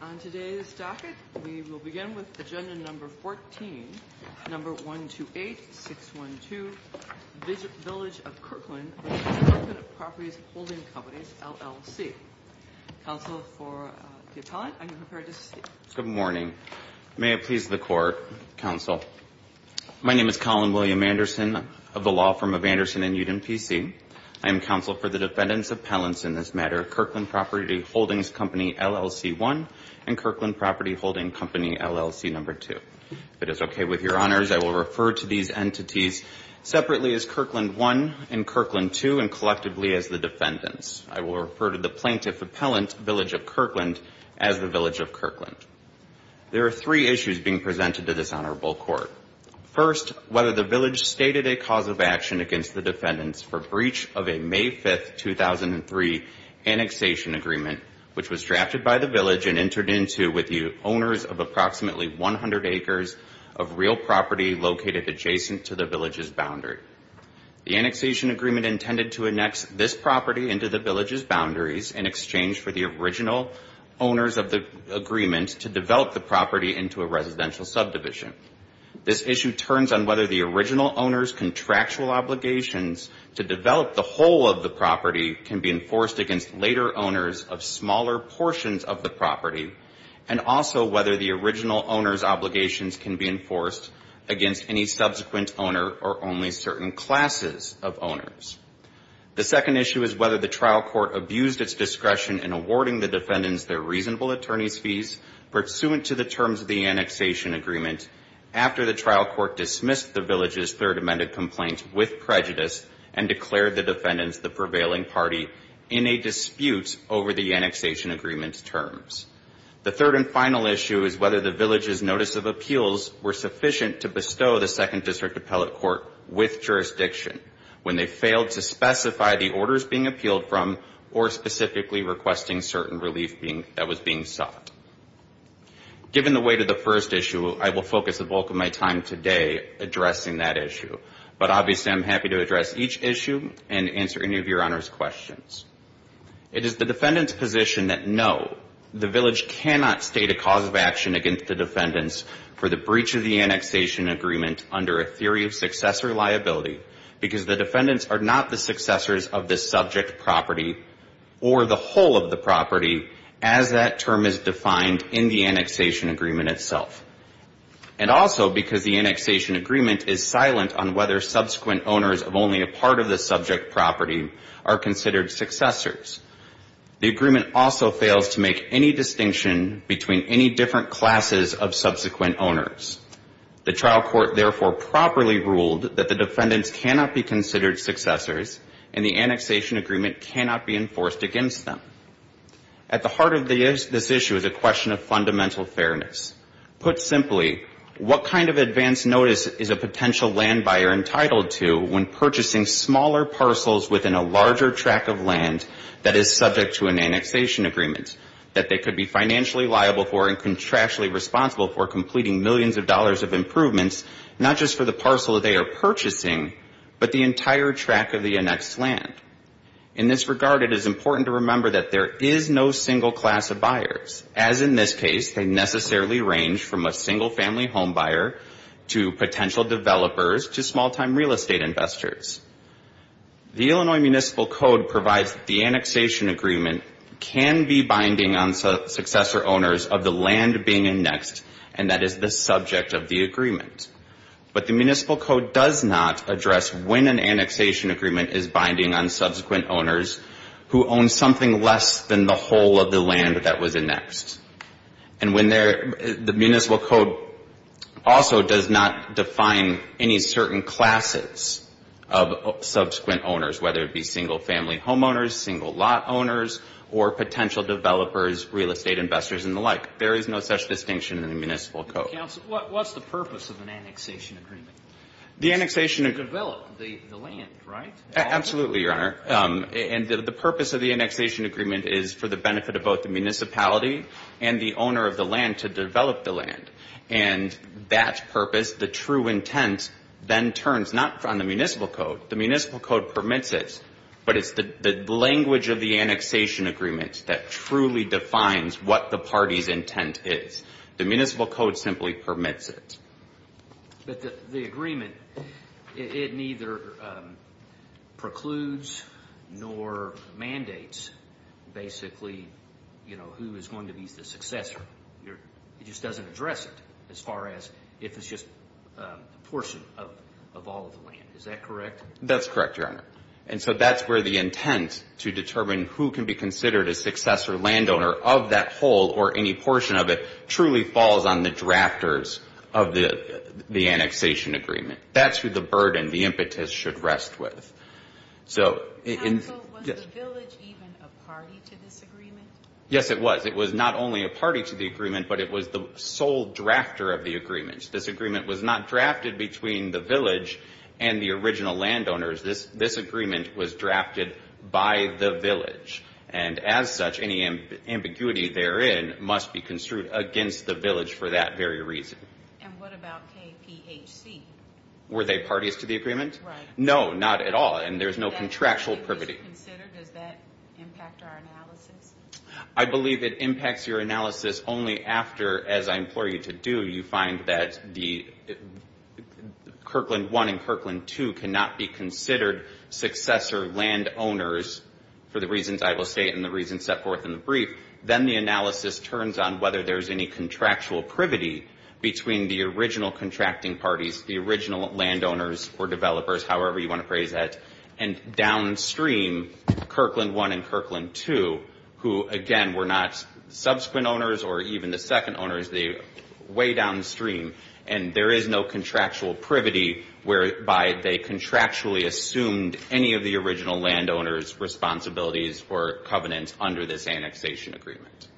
On today's docket, we will begin with agenda number 14, number 128612, Village of Kirkland v. Kirkland Properties Holdings Co., LLC. Counsel for the Appellant, are you prepared to speak? Good morning. May it please the Court, Counsel. My name is Colin William Anderson of the Law Firm of Anderson & Uden, P.C. I am Counsel for the Defendant's Appellants in this matter, Kirkland Property Holdings Co., LLC, 1 and Kirkland Property Holdings Co., LLC, number 2. If it is okay with your Honors, I will refer to these entities separately as Kirkland 1 and Kirkland 2 and collectively as the Defendants. I will refer to the Plaintiff Appellant, Village of Kirkland, as the Village of Kirkland. There are three issues being presented to this Honorable Court. First, whether the Village stated a cause of action against the Defendants for breach of a May 5, 2003, annexation agreement, which was drafted by the Village and entered into with the owners of approximately 100 acres of real property located adjacent to the Village's boundary. The annexation agreement intended to annex this property into the Village's boundaries in exchange for the original owners of the agreement to develop the property into a residential subdivision. This issue turns on whether the original owners' contractual obligations to develop the whole of the property can be enforced against later owners of smaller portions of the property and also whether the original owners' obligations can be enforced against any subsequent owner or only certain classes of owners. The second issue is whether the trial court abused its discretion in awarding the Defendants their reasonable attorney's fees pursuant to the terms of the annexation agreement after the trial court dismissed the Village's third amended complaint with prejudice and declared the Defendants the prevailing party in a dispute over the annexation agreement's terms. The third and final issue is whether the Village's notice of appeals were sufficient to bestow the Second District Appellate Court with jurisdiction when they failed to specify the orders being appealed from or specifically requesting certain relief that was being sought. Given the weight of the first issue, I will focus the bulk of my time today addressing that issue, but obviously I'm happy to address each issue and answer any of your Honor's questions. It is the Defendant's position that no, the Village cannot state a cause of action against the Defendants for the breach of the annexation agreement under a theory of successor liability because the Defendants are not the successors of this subject property or the whole of the property as that term is defined in the annexation agreement itself. And also because the annexation agreement is silent on whether subsequent owners of only a part of the subject property are considered successors. The agreement also fails to make any distinction between any different classes of subsequent owners. The trial court therefore properly ruled that the Defendants cannot be considered successors and the annexation agreement cannot be enforced against them. At the heart of this issue is a question of fundamental fairness. Put simply, what kind of advance notice is a potential land buyer entitled to when purchasing smaller parcels within a larger tract of land that is subject to an annexation agreement that they could be financially liable for and contractually responsible for completing millions of dollars of improvements, not just for the parcel they are purchasing, but the entire tract of the annexed land? In this regard, it is important to remember that there is no single class of buyers. As in this case, they necessarily range from a single family home buyer to potential developers to small-time real estate investors. The Illinois Municipal Code provides that the annexation agreement can be binding on successor owners of the land being annexed and that is the subject of the agreement. But the Municipal Code does not address when an annexation agreement is binding on subsequent owners who own something less than the whole of the land that was annexed. And when there the Municipal Code also does not define any certain classes of subsequent owners, whether it be single family homeowners, single lot owners, or potential developers, real estate investors, and the like. There is no such distinction in the Municipal Code. Counsel, what's the purpose of an annexation agreement? The annexation agreement. To develop the land, right? Absolutely, Your Honor. And the purpose of the annexation agreement is for the benefit of both the municipality and the owner of the land to develop the land. And that purpose, the true intent, then turns not on the Municipal Code. The Municipal Code permits it, but it's the language of the annexation agreement that truly defines what the party's intent is. The Municipal Code simply permits it. But the agreement, it neither precludes nor mandates basically, you know, who is going to be the successor. It just doesn't address it as far as if it's just a portion of all of the land. Is that correct? That's correct, Your Honor. And so that's where the intent to determine who can be considered a successor landowner of that whole or any portion of it truly falls on the drafters of the annexation agreement. That's who the burden, the impetus should rest with. Counsel, was the village even a party to this agreement? Yes, it was. It was not only a party to the agreement, but it was the sole drafter of the agreement. This agreement was not drafted between the village and the original landowners. This agreement was drafted by the village. And as such, any ambiguity therein must be construed against the village for that very reason. And what about KPHC? Were they parties to the agreement? Right. No, not at all. And there's no contractual privity. Was it considered? Does that impact our analysis? I believe it impacts your analysis only after, as I implore you to do, you find that the Kirkland I and Kirkland II cannot be considered successor landowners for the reasons I will state and the reasons set forth in the brief. Then the analysis turns on whether there's any contractual privity between the original contracting parties, the original landowners or developers, however you want to phrase that, and downstream, Kirkland I and Kirkland II, who, again, were not subsequent owners or even the second owners, way downstream. And there is no contractual privity whereby they contractually assumed any of the original landowners' responsibilities for covenants under this annexation agreement.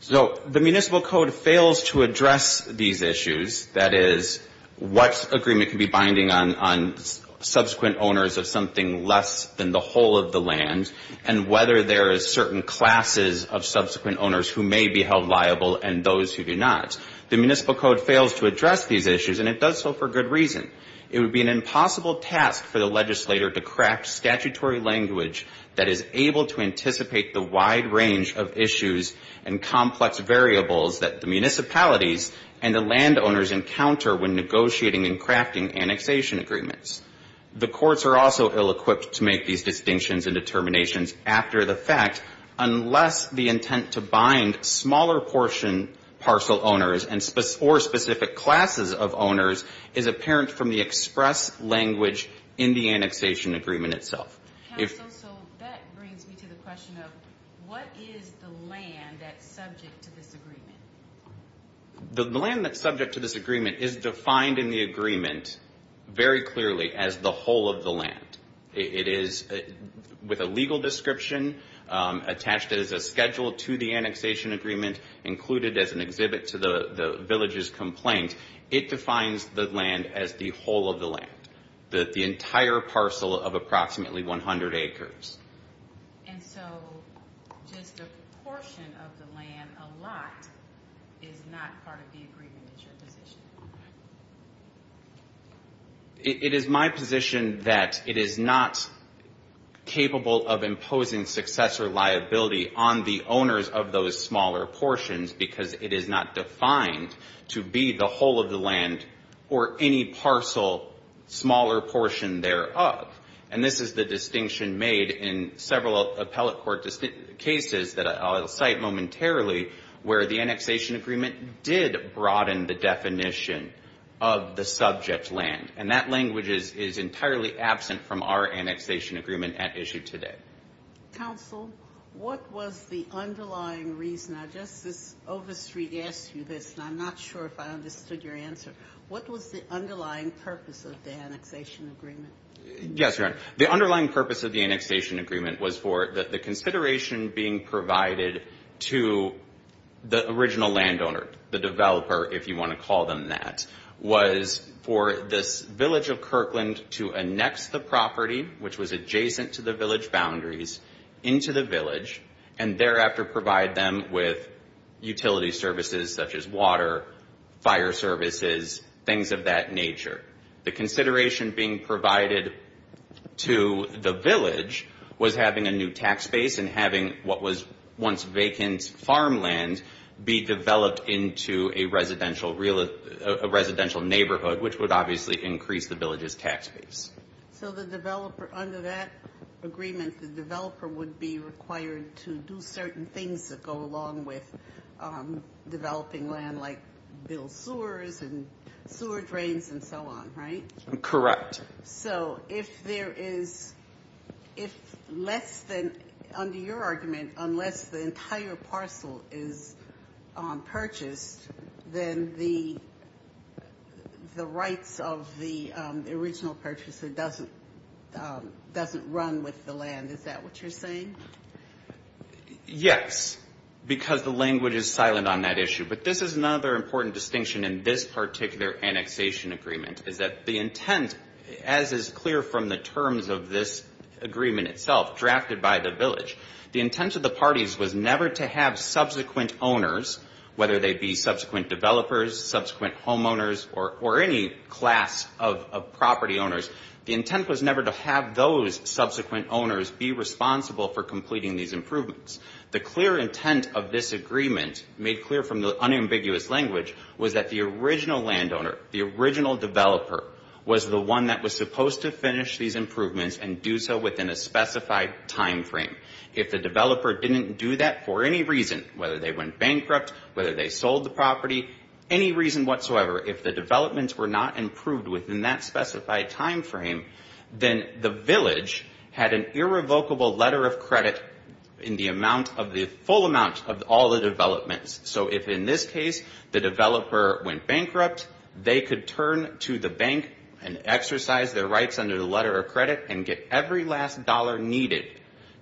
So the Municipal Code fails to address these issues, that is, what agreement can be binding on subsequent owners of something less than the whole of the land and whether there is certain classes of subsequent owners who may be held liable and those who do not. The Municipal Code fails to address these issues, and it does so for good reason. It would be an impossible task for the legislator to craft statutory language that is able to anticipate the wide range of issues and complex variables that the municipalities and the landowners encounter when negotiating and crafting annexation agreements. The courts are also ill-equipped to make these distinctions and determinations after the fact, unless the intent to bind smaller portion parcel owners or specific classes of owners is apparent from the express language in the annexation agreement itself. Council, so that brings me to the question of what is the land that's subject to this agreement? The land that's subject to this agreement is defined in the agreement very clearly as the whole of the land. It is, with a legal description, attached as a schedule to the annexation agreement, included as an exhibit to the village's complaint. It defines the land as the whole of the land, the entire parcel of approximately 100 acres. And so just a portion of the land, a lot, is not part of the agreement, is your position? It is my position that it is not capable of imposing successor liability on the owners of those smaller portions because it is not defined to be the whole of the land or any parcel smaller portion thereof. And this is the distinction made in several appellate court cases that I'll cite momentarily where the annexation agreement did broaden the definition of the subject land. And that language is entirely absent from our annexation agreement at issue today. Council, what was the underlying reason? Now, Justice Overstreet asked you this, and I'm not sure if I understood your answer. What was the underlying purpose of the annexation agreement? Yes, Your Honor, the underlying purpose of the annexation agreement was for the consideration being provided to the original landowner, the developer, if you want to call them that, was for this village of Kirkland to annex the property, which was adjacent to the village boundaries, into the village and thereafter provide them with utility services such as water, fire services, things of that nature. The consideration being provided to the village was having a new tax base and having what was once vacant farmland be developed into a residential neighborhood, which would obviously increase the village's tax base. So the developer, under that agreement, the developer would be required to do certain things that go along with developing land like build sewers and sewer drains and so on, right? Correct. So if there is, if less than, under your argument, unless the entire parcel is purchased, then the rights of the original purchaser doesn't run with the land. Is that what you're saying? Yes, because the language is silent on that issue. But this is another important distinction in this particular annexation agreement, is that the intent, as is clear from the terms of this agreement itself, drafted by the village, the intent of the parties was never to have subsequent owners, whether they be subsequent developers, subsequent homeowners or any class of property owners, the intent was never to have those subsequent owners be responsible for completing these improvements. The clear intent of this agreement, made clear from the unambiguous language, was that the original landowner, the original developer, was the one that was supposed to finish these improvements and do so within a specified timeframe. If the developer didn't do that for any reason, whether they went bankrupt, whether they sold the property, any reason whatsoever, if the developments were not improved within that specified timeframe, then the village had an irrevocable letter of credit in the amount of the full amount of all the developments. So if in this case the developer went bankrupt, they could turn to the bank and exercise their rights under the letter of credit and get every last dollar needed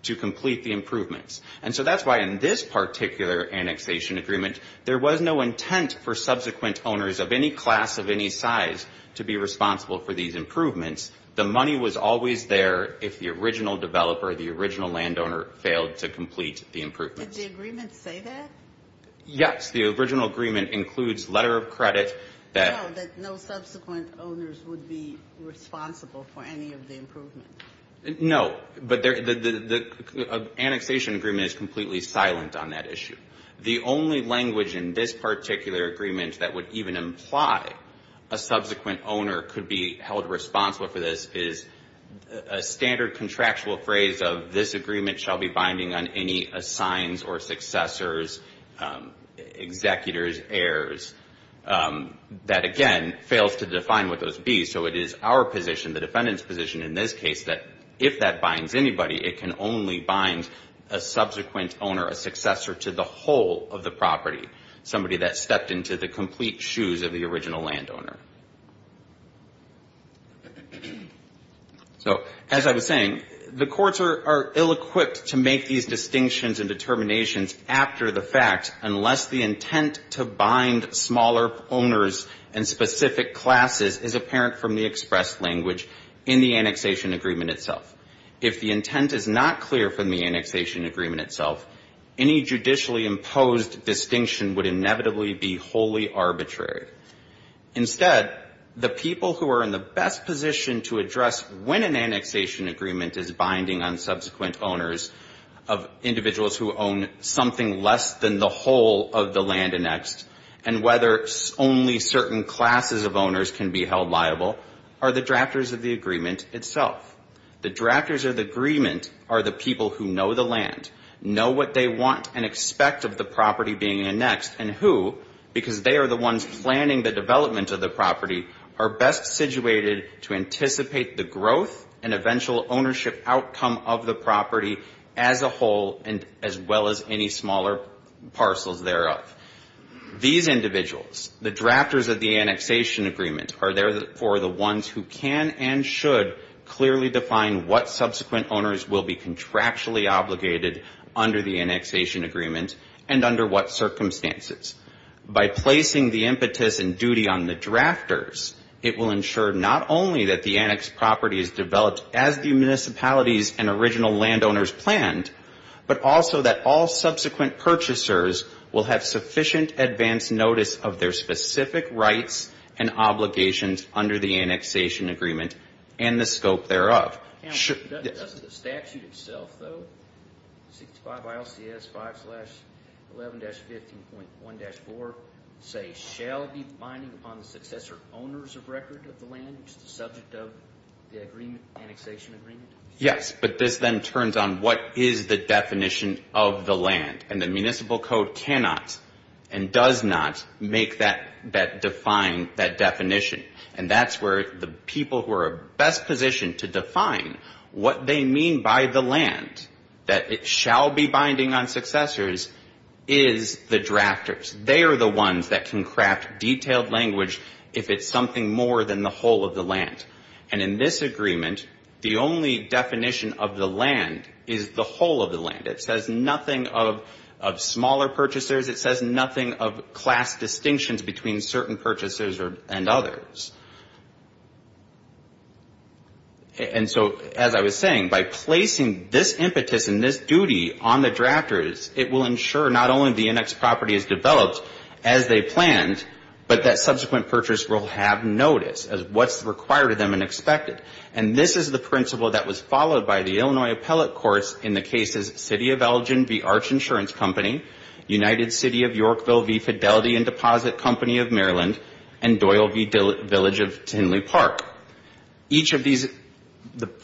to complete the improvements. And so that's why in this particular annexation agreement, there was no intent for subsequent owners of any class of any size to be responsible for these improvements. The money was always there if the original developer, the original landowner, failed to complete the improvements. Did the agreement say that? Yes. The original agreement includes letter of credit that... No, but the annexation agreement is completely silent on that issue. The only language in this particular agreement that would even imply a subsequent owner could be held responsible for this is a standard contractual phrase of this agreement shall be binding on any assigns or successors, executors, heirs, that again fails to define what those be. So it is our position, the defendant's position in this case, that if that binds anybody, it can only bind a subsequent owner, a successor to the whole of the property, somebody that stepped into the complete shoes of the original landowner. So as I was saying, the courts are ill-equipped to make these distinctions and determinations after the fact unless the intent to bind smaller owners and specific classes is apparent from the beginning. If the intent is not clear from the express language in the annexation agreement itself, if the intent is not clear from the annexation agreement itself, any judicially imposed distinction would inevitably be wholly arbitrary. Instead, the people who are in the best position to address when an annexation agreement is binding on subsequent owners of individuals who own something less than the whole of the land annexed, are the drafters of the agreement itself. The drafters of the agreement are the people who know the land, know what they want and expect of the property being annexed, and who, because they are the ones planning the development of the property, are best situated to anticipate the growth and eventual ownership outcome of the property as a whole, as well as any smaller parcels thereof. These individuals, the drafters of the annexation agreement, are therefore the ones who can and should clearly define what subsequent owners will be contractually obligated under the annexation agreement and under what circumstances. By placing the impetus and duty on the drafters, it will ensure not only that the annexed property is developed as the municipalities and original landowners planned, but also that all subsequent purchasers will have sufficient advance notice of their specific rights and obligations under the annexation agreement and the scope thereof. The statute itself, though, 65 ILCS 5-11-15.1-4, say, shall be binding upon the successor owners of record of the land, which is the subject of the annexation agreement? Yes, but this then turns on what is the definition of the land. And the municipal code cannot and does not make that, define that definition. And that's where the people who are best positioned to define what they mean by the land, that it shall be binding on successors, is the drafters. They are the ones that can craft detailed language if it's something more than the whole of the land. And in this agreement, the only definition of the land is the whole of the land. It says nothing of smaller purchasers. It says nothing of class distinctions between certain purchasers and others. And so, as I was saying, by placing this impetus and this duty on the drafters, it will ensure not only the annexed property is developed as they planned, but that subsequent purchasers will have notice of what's required of them and expected. And this is the principle that was followed by the Illinois appellate courts in the cases City of Elgin v. Arch Insurance Company, United City of Yorkville v. Fidelity and Deposit Company of Maryland, and Doyle v. Village of Tinley Park. Each of these,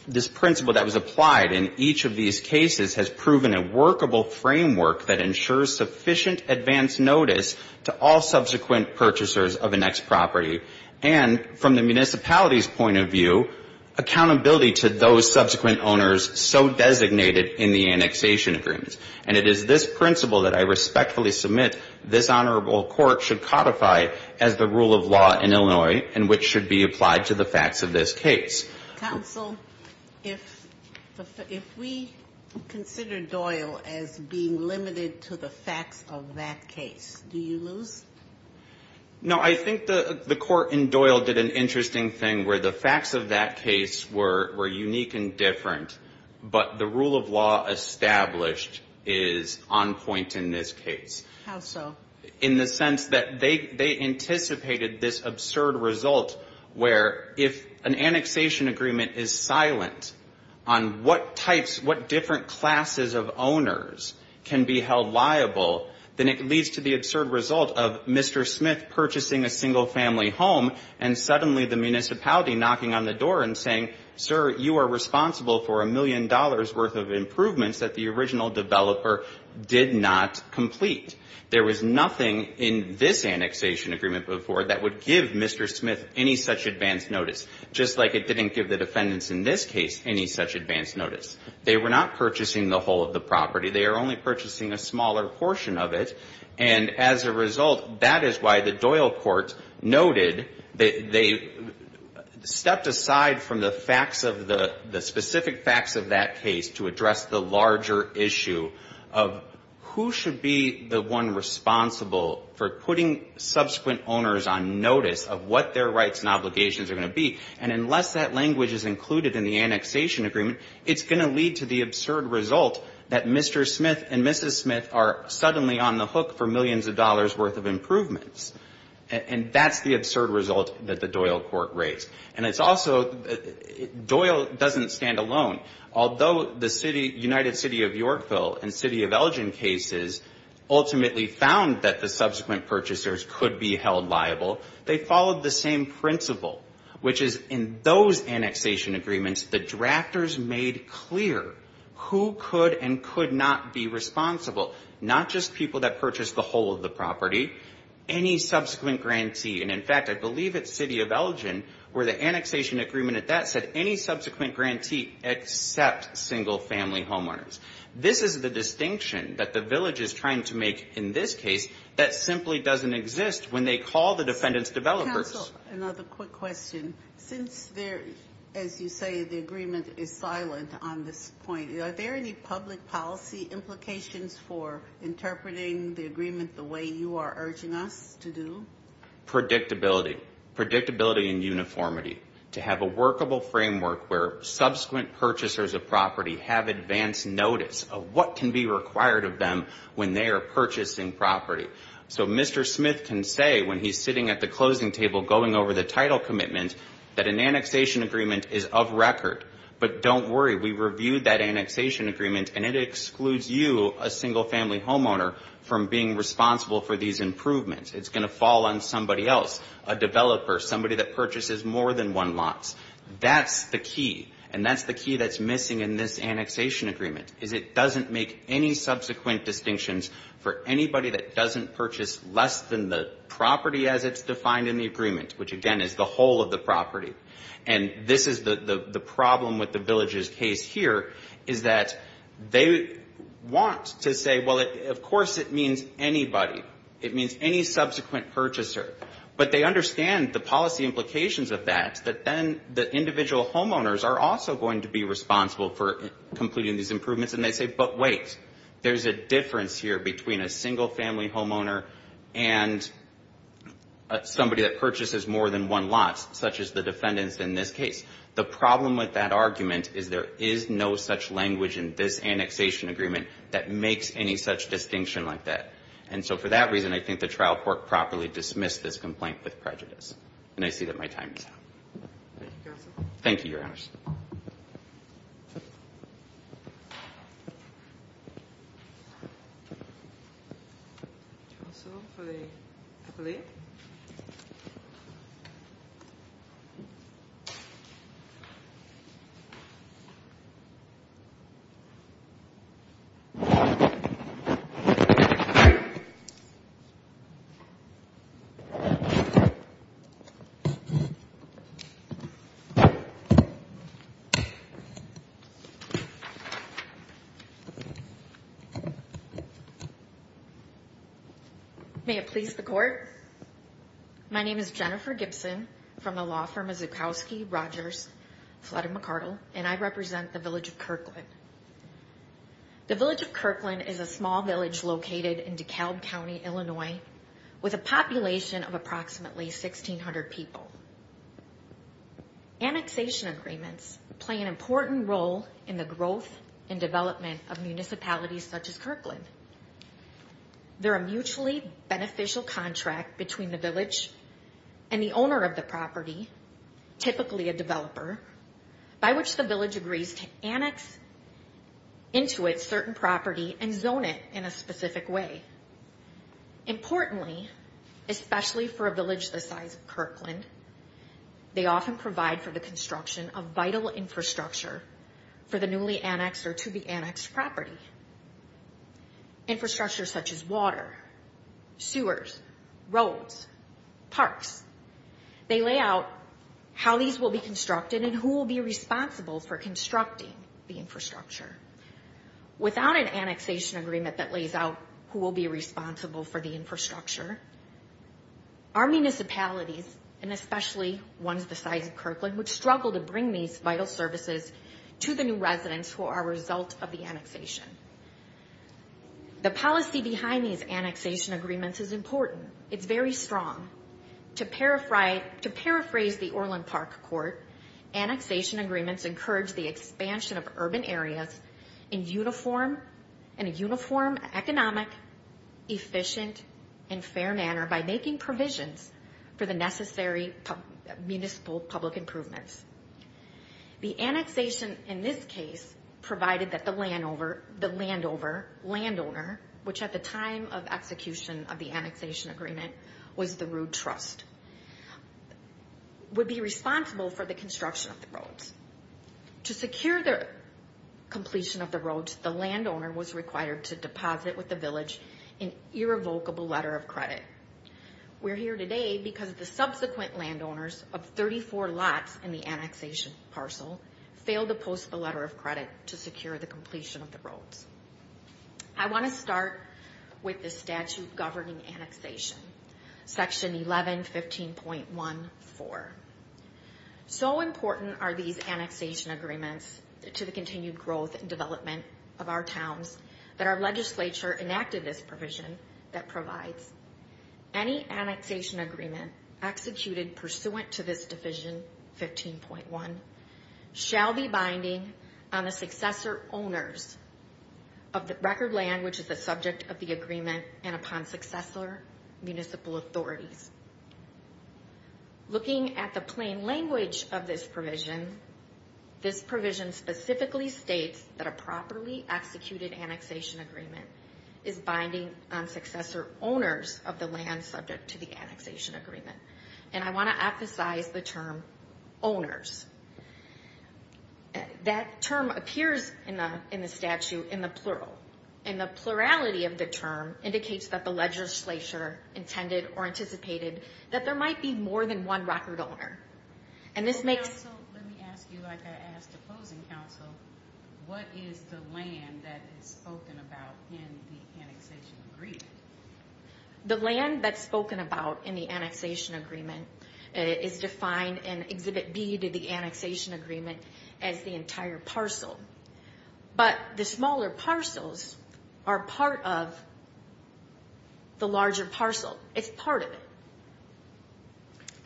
this principle that was applied in each of these cases has proven a workable framework that ensures sufficient advance notice to all subsequent purchasers of annexed property and, from the municipality's point of view, accountability to those subsequent owners so designated in the annexation agreements. And it is this principle that I respectfully submit this honorable court should codify as the rule of law in Illinois and which should be applied to the facts of this case. Counsel, if we consider Doyle as being limited to the facts of that case, do you lose? No, I think the court in Doyle did an interesting thing where the facts of that case were unique and different, but the rule of law established is on point in this case. How so? In the sense that they anticipated this absurd result where if an annexation agreement is silent on what types, what different classes of owners can be held liable, then it leads to the absurd result of Mr. Smith purchasing a single family home and suddenly the municipality knocking on the door and saying, sir, you are responsible for a million dollars worth of improvements that the original developer did not complete. There was nothing in this annexation agreement before that would give Mr. Smith any such advance notice, just like it didn't give the defendants in this case any such advance notice. They were not purchasing the whole of the property. They were only purchasing a smaller portion of it. And as a result, that is why the Doyle court noted that they stepped aside from the facts of the specific facts of that case to address the larger issue of who should be the one responsible for putting subsequent owners on notice of what their rights and obligations are going to be. And unless that language is included in the annexation agreement, it's going to lead to the absurd result that Mr. Smith and Mrs. Smith are suddenly on the hook for millions of dollars worth of improvements. And that's the absurd result that the Doyle court raised. And it's also, Doyle doesn't stand alone. Although the city, United City of Yorkville and City of Elgin cases ultimately found that the subsequent purchasers could be held liable, they followed the same principle, which is in those annexation agreements, the drafters made clear who could and could not be responsible, not just people that purchased the whole of the property, any subsequent grantee. And in fact, I believe it's City of Elgin where the annexation agreement at that said any subsequent grantee except single family homeowners. This is the distinction that the village is trying to make in this case that simply doesn't exist when they call the defendants developers. Another quick question. Since there, as you say, the agreement is silent on this point. Are there any public policy implications for interpreting the agreement the way you are urging us to do? Predictability. Predictability and uniformity. To have a workable framework where subsequent purchasers of property have advanced notice of what can be required of them when they are purchasing property. So Mr. Smith can say when he's sitting at the closing table going over the title commitment that an annexation agreement is of record. But don't worry. We reviewed that annexation agreement and it excludes you, a single family homeowner, from being responsible for these improvements. It's going to fall on somebody else, a developer, somebody that purchases more than one lot. That's the key. And that's the key that's missing in this annexation agreement is it doesn't make any subsequent distinctions for anybody that doesn't purchase less than the property as it's defined in the agreement, which again is the whole of the property. And this is the problem with the village's case here is that they want to say, well, of course it means anybody. It means any subsequent purchaser. But they understand the policy implications of that, that then the individual homeowners are also going to be responsible for completing these improvements. And they say, but wait. There's a difference here between a single family homeowner and somebody that purchases more than one lot, such as the defendants in this case. The problem with that argument is there is no such language in this annexation agreement that makes any such distinction like that. And so for that reason, I think the trial court properly dismissed this complaint with prejudice. And I see that my time is up. Thank you, Your Honor. May it please the court. My name is Jennifer Gibson from the law firm of Zukowski Rogers, Flutter, McArdle, and I represent the village of Kirkland. Kirkland is a small village located in DeKalb County, Illinois, with a population of approximately 1,600 people. Annexation agreements play an important role in the growth and development of municipalities such as Kirkland. They're a mutually beneficial contract between the village and the owner of the property, typically a developer, by which the village agrees to annex into its certain property and zone it in a specific way. Importantly, especially for a village the size of Kirkland, they often provide for the construction of vital infrastructure for the newly annexed or to be annexed property. Infrastructure such as water, sewers, roads, parks. They lay out how these will be constructed and who will be responsible for constructing the infrastructure. Without an annexation agreement that lays out who will be responsible for the infrastructure, our municipalities, and especially ones the size of Kirkland, would struggle to bring these vital services to the new residents who are a result of the annexation. The policy behind these annexation agreements is important. It's very strong. To paraphrase the Orland Park Court, annexation agreements encourage the expansion of urban areas in a uniform, economic, efficient, and fair manner by making provisions for the necessary municipal public improvements. The annexation in this case provided that the land over, the land over, land owner, which at the time of execution of the annexation agreement was the Rood Trust, would be responsible for the construction of the roads. To secure the completion of the roads, the land owner was required to deposit with the village an irrevocable letter of credit. We're here today because the subsequent land owners of 34 lots in the annexation parcel failed to post the letter of credit to secure the completion of the roads. I want to start with the statute governing annexation, section 11, 15.14. So important are these annexation agreements to the continued growth and development of our towns that our legislature enacted this provision that provides any annexation agreement executed pursuant to this division, 15.1, shall be binding on the successor owners of the record land which is the subject of the agreement and upon successor municipal authorities. Looking at the plain language of this provision, this provision specifically states that a properly executed annexation agreement is binding on successor owners of the land subject to the annexation agreement. And I want to emphasize the term owners. That term appears in the statute in the plural, and the plurality of the term indicates that the legislature intended or anticipated that there might be more than one record owner. And this makes... Let me ask you, like I asked the closing counsel, what is the land that is spoken about in the annexation agreement? The land that's spoken about in the annexation agreement is defined in Exhibit B to the annexation agreement as the entire parcel. But the smaller parcels are part of the larger parcel, and the smaller parcels are part of the larger parcel. It's part of it.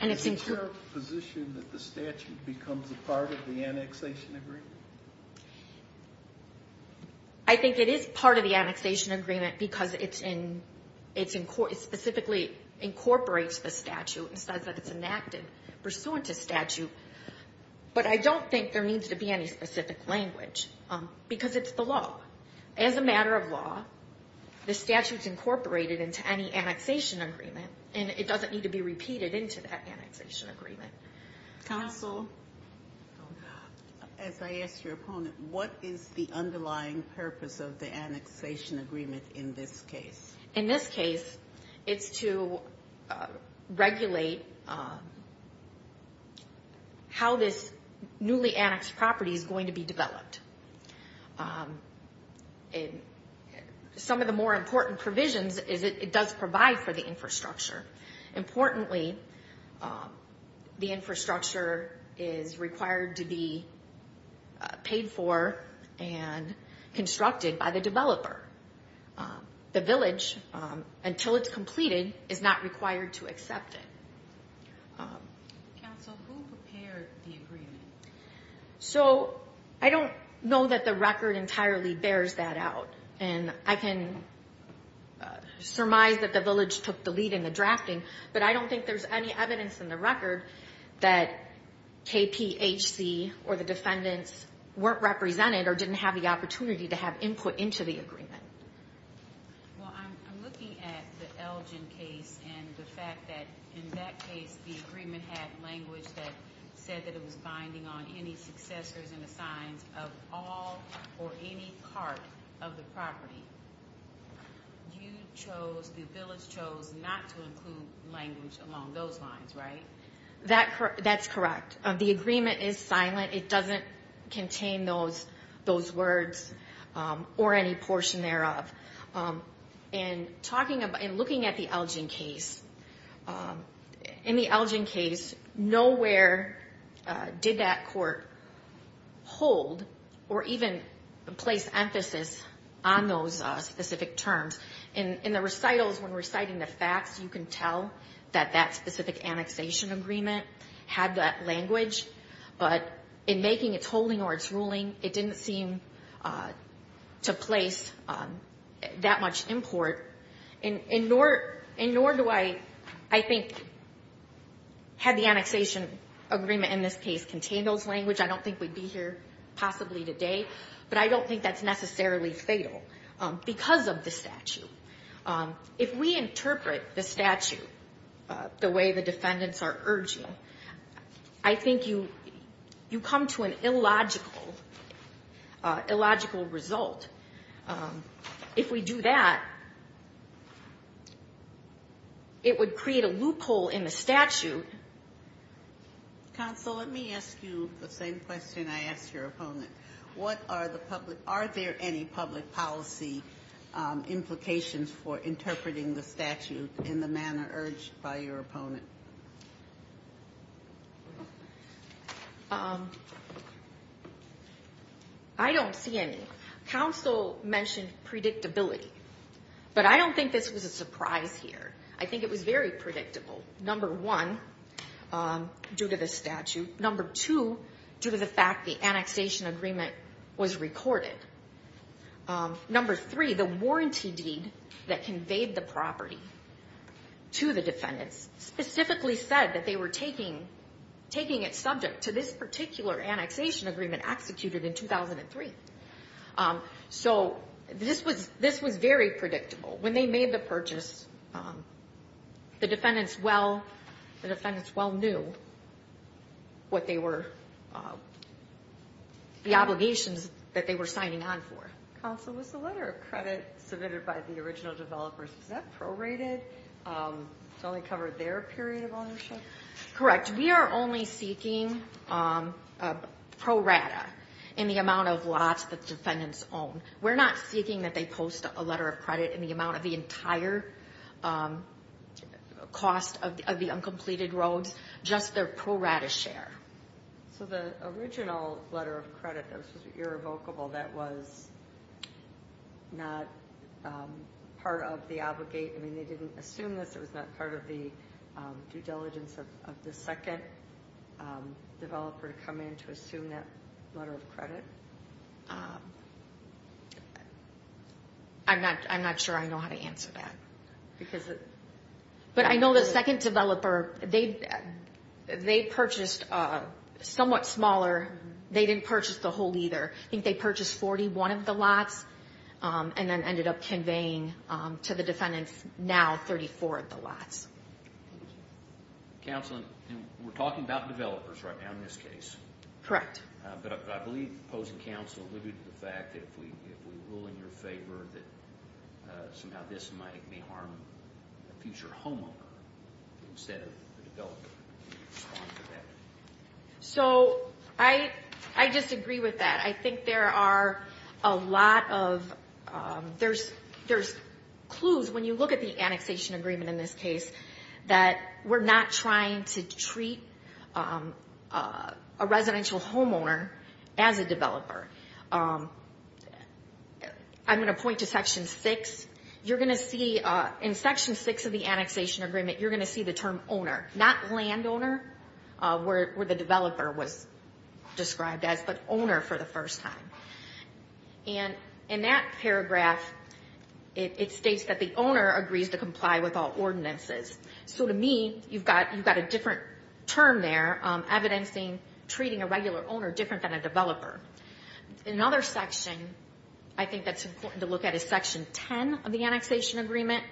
Is it your position that the statute becomes a part of the annexation agreement? I think it is part of the annexation agreement because it specifically incorporates the statute and says that it's enacted pursuant to statute. But I don't think there needs to be any specific language, because it's the law. As a matter of law, the statute is part of the annexation agreement, and it doesn't need to be repeated into that annexation agreement. Counsel? As I asked your opponent, what is the underlying purpose of the annexation agreement in this case? In this case, it's to regulate how this newly annexed property is going to be developed. Some of the more important provisions is it does provide for the infrastructure. Importantly, the infrastructure is required to be paid for and constructed by the developer. The village, until it's completed, is not required to accept it. Counsel, who prepared the agreement? I don't know that the record entirely bears that out. I can surmise that the village took the lead in the drafting, but I don't think there's any evidence in the record that KPHC or the defendants weren't represented or didn't have the opportunity to have input into the agreement. I'm looking at the Elgin case and the fact that in that case, the agreement had language that said it was binding on any successors and the signs of all or any part of the property. The village chose not to include language along those lines, right? That's correct. The agreement is silent. It doesn't contain those words or any portion thereof. In looking at the Elgin case, nowhere did that court hold or even place emphasis on those specific terms. In the recitals, when reciting the facts, you can tell that that specific annexation agreement had that language, but in making its holding or its holding, it didn't have that much import, and nor do I think had the annexation agreement in this case contained those language, I don't think we'd be here possibly today, but I don't think that's necessarily fatal because of the statute. If we interpret the statute the way the defendants are urging, I think you come to an illogical result. If we do that, it would create a loophole in the statute. Counsel, let me ask you the same question I asked your opponent. What are the public, are there any public policy implications for interpreting the statute in the manner urged by your opponent? I don't see any. Counsel mentioned predictability, but I don't think this was a surprise here. I think it was very predictable. Number one, due to the statute. Number two, due to the fact the annexation agreement was recorded. Number three, the warranty deed that conveyed the property to the defendants, specifically to the defendants, was not recorded. It specifically said that they were taking it subject to this particular annexation agreement executed in 2003. So this was very predictable. When they made the purchase, the defendants well knew what they were, the obligations that they were signing on for. Counsel, was the letter of credit submitted by the original developers, is that prorated? It only covered their period of ownership? Correct. We are only seeking prorata in the amount of lots that the defendants own. We're not seeking that they post a letter of credit in the amount of the entire cost of the uncompleted roads, just their prorata share. So the original letter of credit that was irrevocable, that was not part of the obligate, I mean they didn't even assume this, it was not part of the due diligence of the second developer to come in to assume that letter of credit? I'm not sure I know how to answer that. But I know the second developer, they purchased somewhat smaller. They didn't purchase the whole either. I think they purchased 41 of the lots and then ended up conveying to the defendants now 34 of the lots. Counsel, we're talking about developers right now in this case. Correct. But I believe the opposing counsel alluded to the fact that if we rule in your favor that somehow this might harm a future homeowner instead of the developer. So I disagree with that. I think there are a lot of, there's clues when you look at the annexation agreement in this case that we're not trying to treat a residential homeowner as a developer. I'm going to point to Section 6. You're going to see in Section 6 of the annexation agreement, you're going to see the term owner, not landowner where the developer was described as, but owner for the first time. And in that paragraph, it states that the owner agrees to comply with all ordinances. So to me, you've got a different term there, evidencing treating a regular owner different than a developer. Another section I think that's important to look at is Section 10 of the annexation agreement.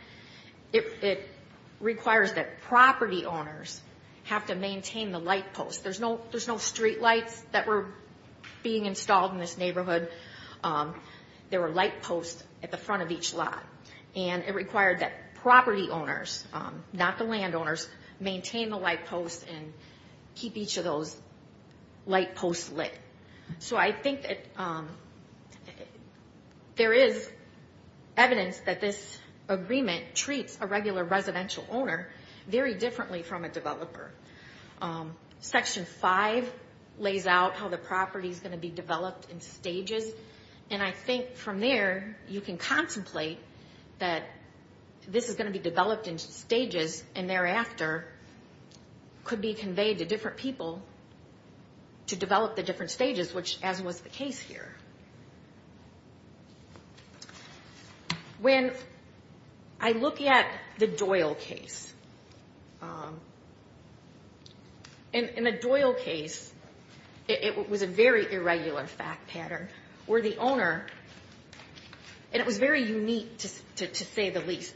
It requires that property owners have to maintain the light post. There's no street lights that were being installed in this neighborhood. There were light posts at the front of each lot. And it required that property owners, not the landowners, maintain the light posts and keep each of those light posts lit. So I think that there is evidence that this agreement treats a regular residential owner very differently from a developer. Section 5 lays out how the property is going to be developed in stages. And I think from there, you can contemplate that this is going to be developed in stages and thereafter could be conveyed to different people to develop the different stages, which as was the case here. When I look at the Doyle case, I look at the Doyle case as an example. I look at the Doyle case as an example. I look at the Doyle case as an example. In the Doyle case, it was a very irregular fact pattern, where the owner, and it was very unique to say the least,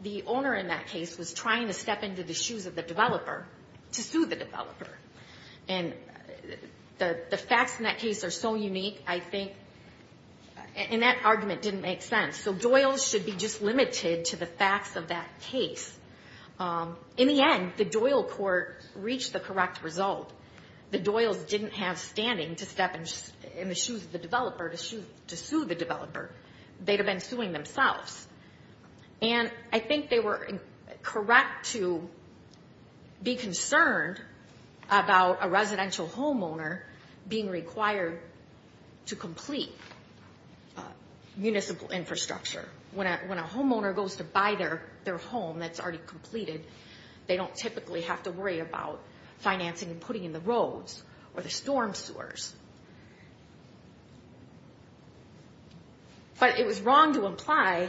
the owner in that case was trying to step into the shoes of the developer to sue the developer. And the facts in that case are so unique, I think, and that argument didn't make sense. So Doyle should be just limited to the facts of that case, but I think that if the court reached the correct result, the Doyles didn't have standing to step in the shoes of the developer to sue the developer. They'd have been suing themselves. And I think they were correct to be concerned about a residential homeowner being required to complete municipal infrastructure. When a homeowner goes to buy their home that's already completed, they don't typically have to wait until the next day to worry about financing and putting in the roads or the storm sewers. But it was wrong to imply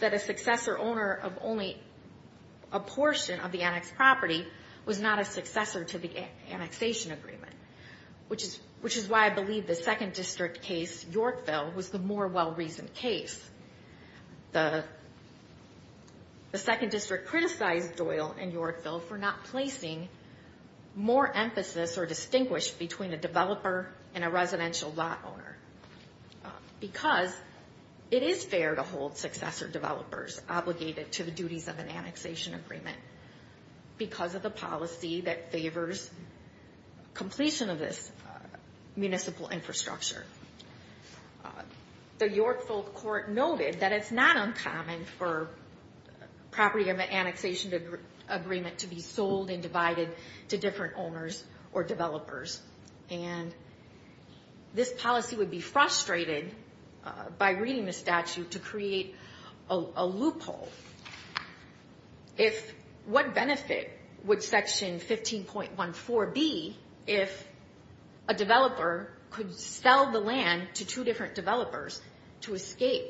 that a successor owner of only a portion of the annexed property was not a successor to the annexation agreement, which is why I believe the second district case, Yorkville, was the more well-reasoned case. The second district criticized Doyle and Yorkville for not placing more emphasis or distinguish between a developer and a residential lot owner, because it is fair to hold successor developers obligated to the duties of an annexation agreement because of the policy that favors completion of this municipal infrastructure. The Yorkville court noted that it's not uncommon for property of an annexation agreement to be sold and divided to different owners or developers. And this policy would be frustrated by reading the statute to create a loophole. If what benefit would Section 15.14 be if a developer could sell the property to a developer who was not a developer, you could sell the land to two different developers to escape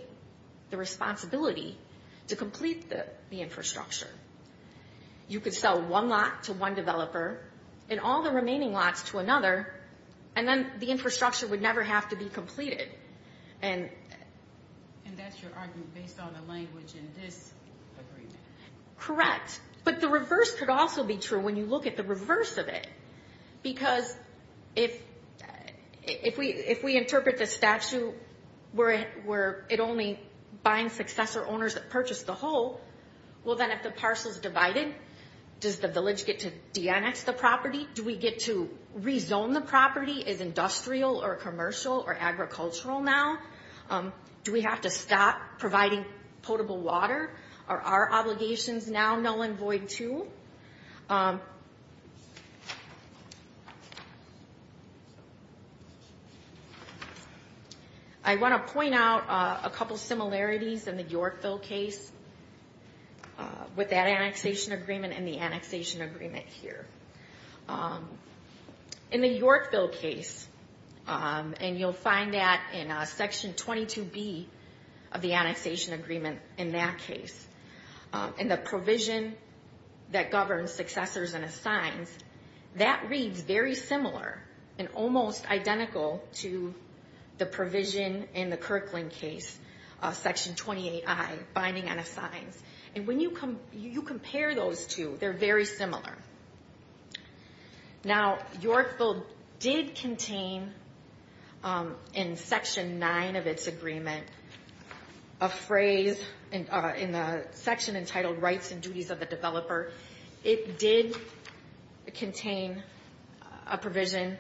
the responsibility to complete the infrastructure. You could sell one lot to one developer and all the remaining lots to another, and then the infrastructure would never have to be completed. And that's your argument based on the language in this agreement? Correct. But the reverse could also be true when you look at the reverse of it. Because if we interpret the statute where it only binds successor owners that purchased the whole, well then if the parcel's divided, does the village get to de-annex the property? Do we get to rezone the property as industrial or commercial or agricultural now? Do we have to stop providing potable water? Are our obligations now null and void too? I want to point out a couple similarities in the Yorkville case with that annexation agreement and the annexation agreement here. In the Yorkville case, and you'll find that in Section 22B of the annexation agreement in that case, and the provision that governs successors and assigns, that reads very similar and almost identical to the provision in the Kirkland case, Section 28I, binding and assigns. And when you compare those two, they're very similar. Now, Yorkville did contain in Section 9 of its agreement, a phrase in the section entitled Rights and Duties of the Developer, it did contain a provision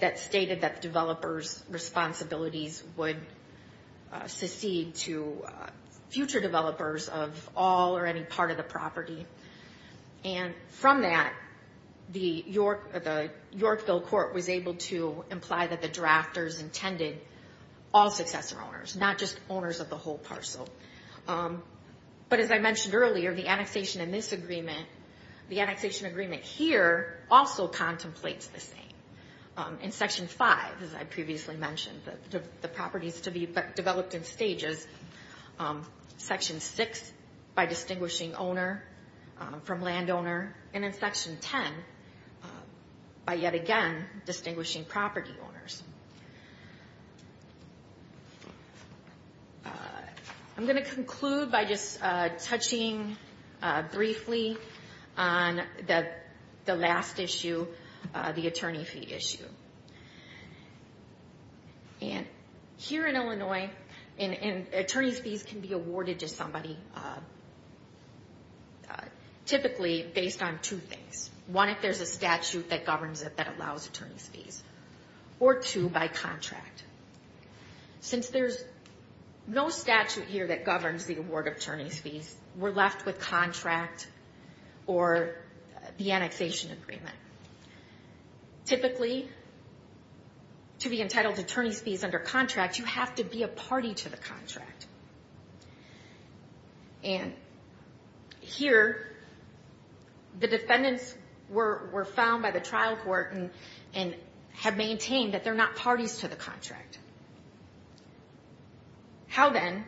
that stated that the developer's responsibilities would secede to future developers of all or any part of the property. And from that, the Yorkville case did contain a provision that stated that the developer's responsibility would secede to future developers of all or any part of the property. And from that, the Yorkville court was able to imply that the drafters intended all successor owners, not just owners of the whole parcel. But as I mentioned earlier, the annexation in this agreement, the annexation agreement here also contemplates the same. In Section 5, as I previously mentioned, the properties to be developed in stages. Section 6, by distinguishing owner from landowner. And in Section 10, by yet again distinguishing property owners. I'm going to conclude by just touching briefly on the last issue, the attorney fee issue. And here in Illinois, attorney's fees can be awarded to somebody typically based on two things. One, if there's a statute that governs it that allows attorney's fees. Or two, by contract. Since there's no statute here that governs the award of attorney's fees, we're left with contract or the annexation agreement. Typically, to be entitled to attorney's fees under contract, you have to be a party to the contract. And here, the defendants were found by the trial court and have maintained that they're not parties to the contract. How then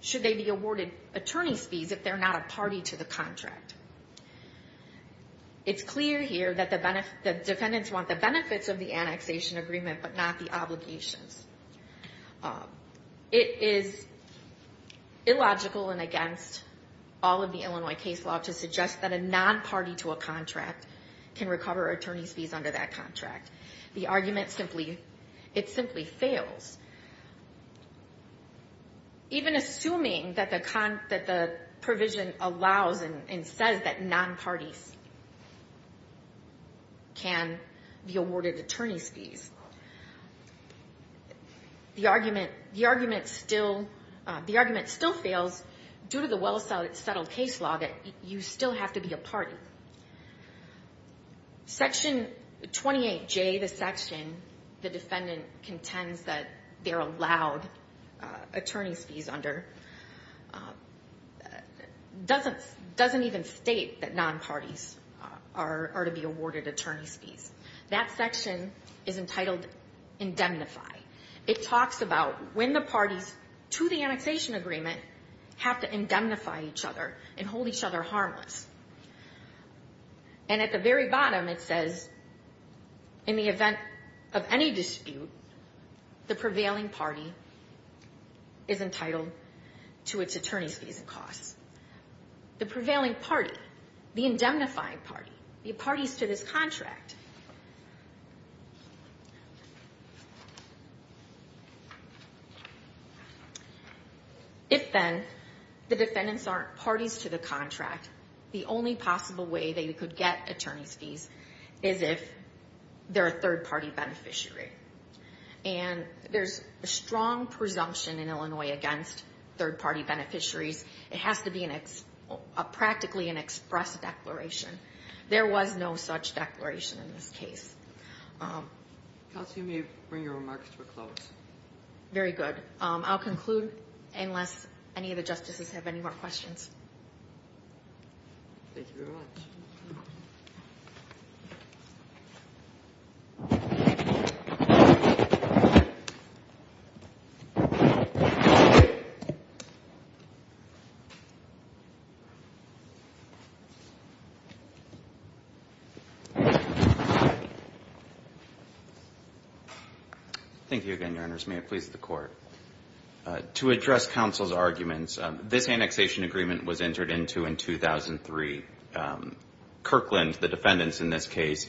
should they be awarded attorney's fees if they're not a party to the contract? It's clear here that the defendants want the benefits of the annexation agreement, but not the obligations. It is illogical and against all of the Illinois case law to suggest that a non-party to a contract can recover attorney's fees under that contract. The argument simply, it simply fails. Even assuming that the provision allows and says that non-parties can be awarded attorney's fees. The argument still fails due to the well-settled case law that you still have to be a party. Section 28J, the section, the defendant contends that they're allowed attorney's fees under, doesn't even state that non-parties are to be awarded attorney's fees. That section is entitled indemnify. It talks about when the parties to the annexation agreement have to indemnify each other and hold each other harmless. And at the very bottom, it says, in the event of any dispute, the prevailing argument is that the prevailing party is entitled to its attorney's fees and costs. The prevailing party, the indemnifying party, the parties to this contract. If then, the defendants aren't parties to the contract, the only possible way they could get attorney's fees is if they're a third-party beneficiary. And there's a strong presumption in Illinois against third-party beneficiaries. It has to be a practically an express declaration. There was no such declaration in this case. Counsel, you may bring your remarks to a close. Very good. I'll conclude unless any of the justices have any more questions. Thank you. Thank you again, Your Honors. May it please the Court. To address counsel's arguments, this annexation agreement was entered into by the defendants in this case,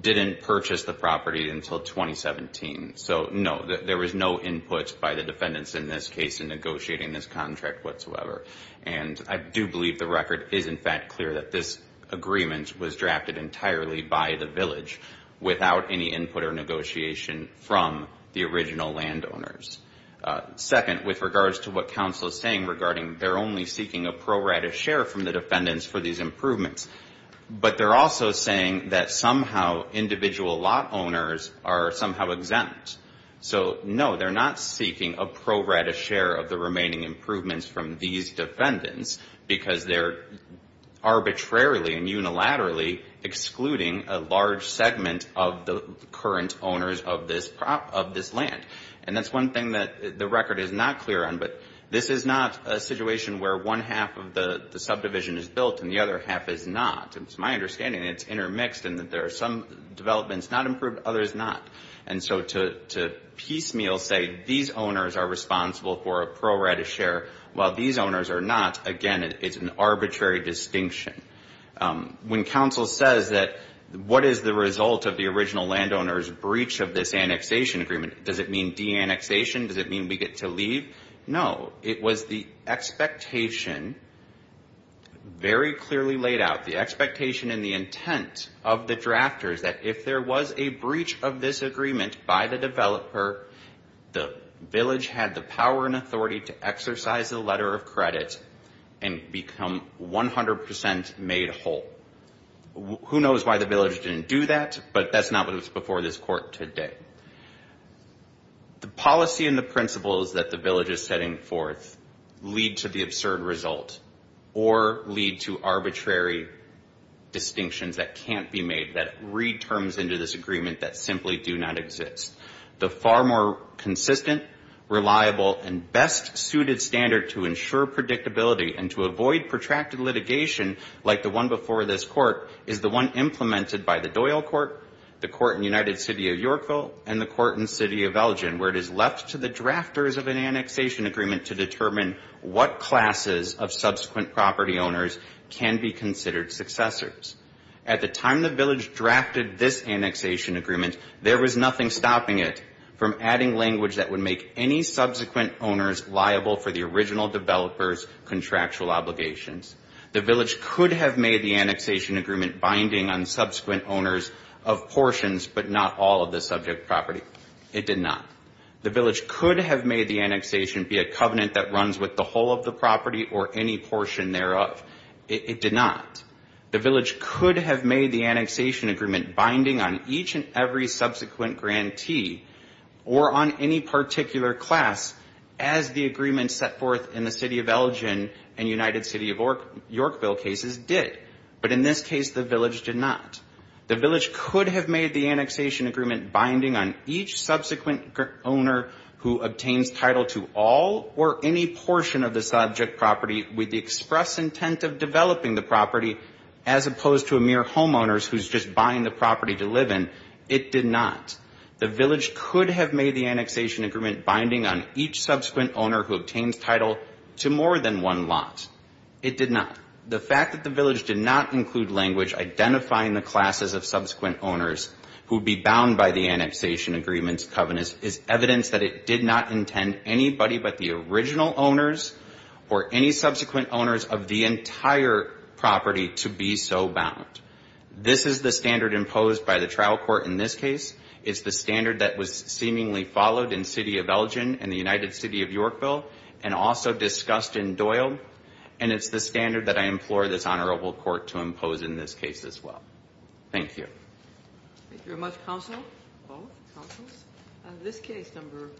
didn't purchase the property until 2017. So, no, there was no input by the defendants in this case in negotiating this contract whatsoever. And I do believe the record is, in fact, clear that this agreement was drafted entirely by the village without any input or negotiation from the original landowners. Second, with regards to what counsel is saying regarding they're only seeking a pro rata share from the defendants for these properties, he's also saying that somehow individual lot owners are somehow exempt. So, no, they're not seeking a pro rata share of the remaining improvements from these defendants because they're arbitrarily and unilaterally excluding a large segment of the current owners of this land. And that's one thing that the record is not clear on. But this is not a situation where one half of the subdivision is built and the other half is not. It's my understanding that it's a mixed and that there are some developments not improved, others not. And so to piecemeal say these owners are responsible for a pro rata share while these owners are not, again, it's an arbitrary distinction. When counsel says that what is the result of the original landowners' breach of this annexation agreement, does it mean de-annexation? Does it mean we get to leave? No. It was the expectation very clearly laid out, the expectation and the intent of the drafters that if there was a breach of this agreement by the developer, the village had the power and authority to exercise the letter of credit and become 100 percent made whole. Who knows why the village didn't do that, but that's not what's before this court today. The policy and the principles that the village is setting forth lead to the absurd result. Or lead to arbitrary distinctions that can't be made. And that's not what's before this court today. It's the absurd result that can't be made, that re-terms into this agreement that simply do not exist. The far more consistent, reliable, and best suited standard to ensure predictability and to avoid protracted litigation like the one before this court is the one implemented by the Doyle Court, the court in the United City of Yorkville, and the court in the city of Elgin, where it is left to the drafters of an annexation agreement to determine what classes of subsequent property owners can be considered successors. At the time the village drafted this annexation agreement, there was nothing stopping it from adding language that would make any subsequent owners liable for the original developer's contractual obligations. The village could have made the annexation agreement binding on subsequent owners of portions, but not all of the subject property. It did not. The village could have made the annexation be a covenant that runs with the whole of the property or any portion thereof. It did not. The village could have made the annexation agreement binding on each and every subsequent grantee, or on any particular class, as the agreement set forth in the city of Elgin and United City of Yorkville cases did. But in this case the village did not. The village could have made the annexation agreement binding on each subsequent owner who obtains title to all or any portion of the subject property with the express intent of developing the property, as opposed to a mere homeowner who is just buying the property to live in. It did not. The village could have made the annexation agreement binding on each subsequent owner who obtains title to more than one lot. It did not. The fact that the village did not include language identifying the classes of subsequent owners who would be owners is evidence that it did not intend anybody but the original owners or any subsequent owners of the entire property to be so bound. This is the standard imposed by the trial court in this case. It's the standard that was seemingly followed in city of Elgin and the United City of Yorkville, and also discussed in Doyle, and it's the standard that I implore this honorable court to impose in this case as well. Thank you. Thank you very much, counsel, both counsels. In this case, number,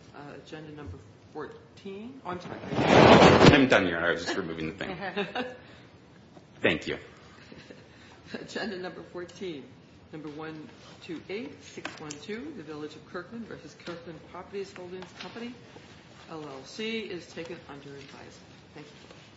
agenda number 14. Oh, I'm sorry. I'm done, Your Honor. I was just removing the thing. Thank you. Agenda number 14, number 128612, the Village of Kirkland v. Kirkland Properties Holdings Company, LLC, is taken under advisory. Thank you.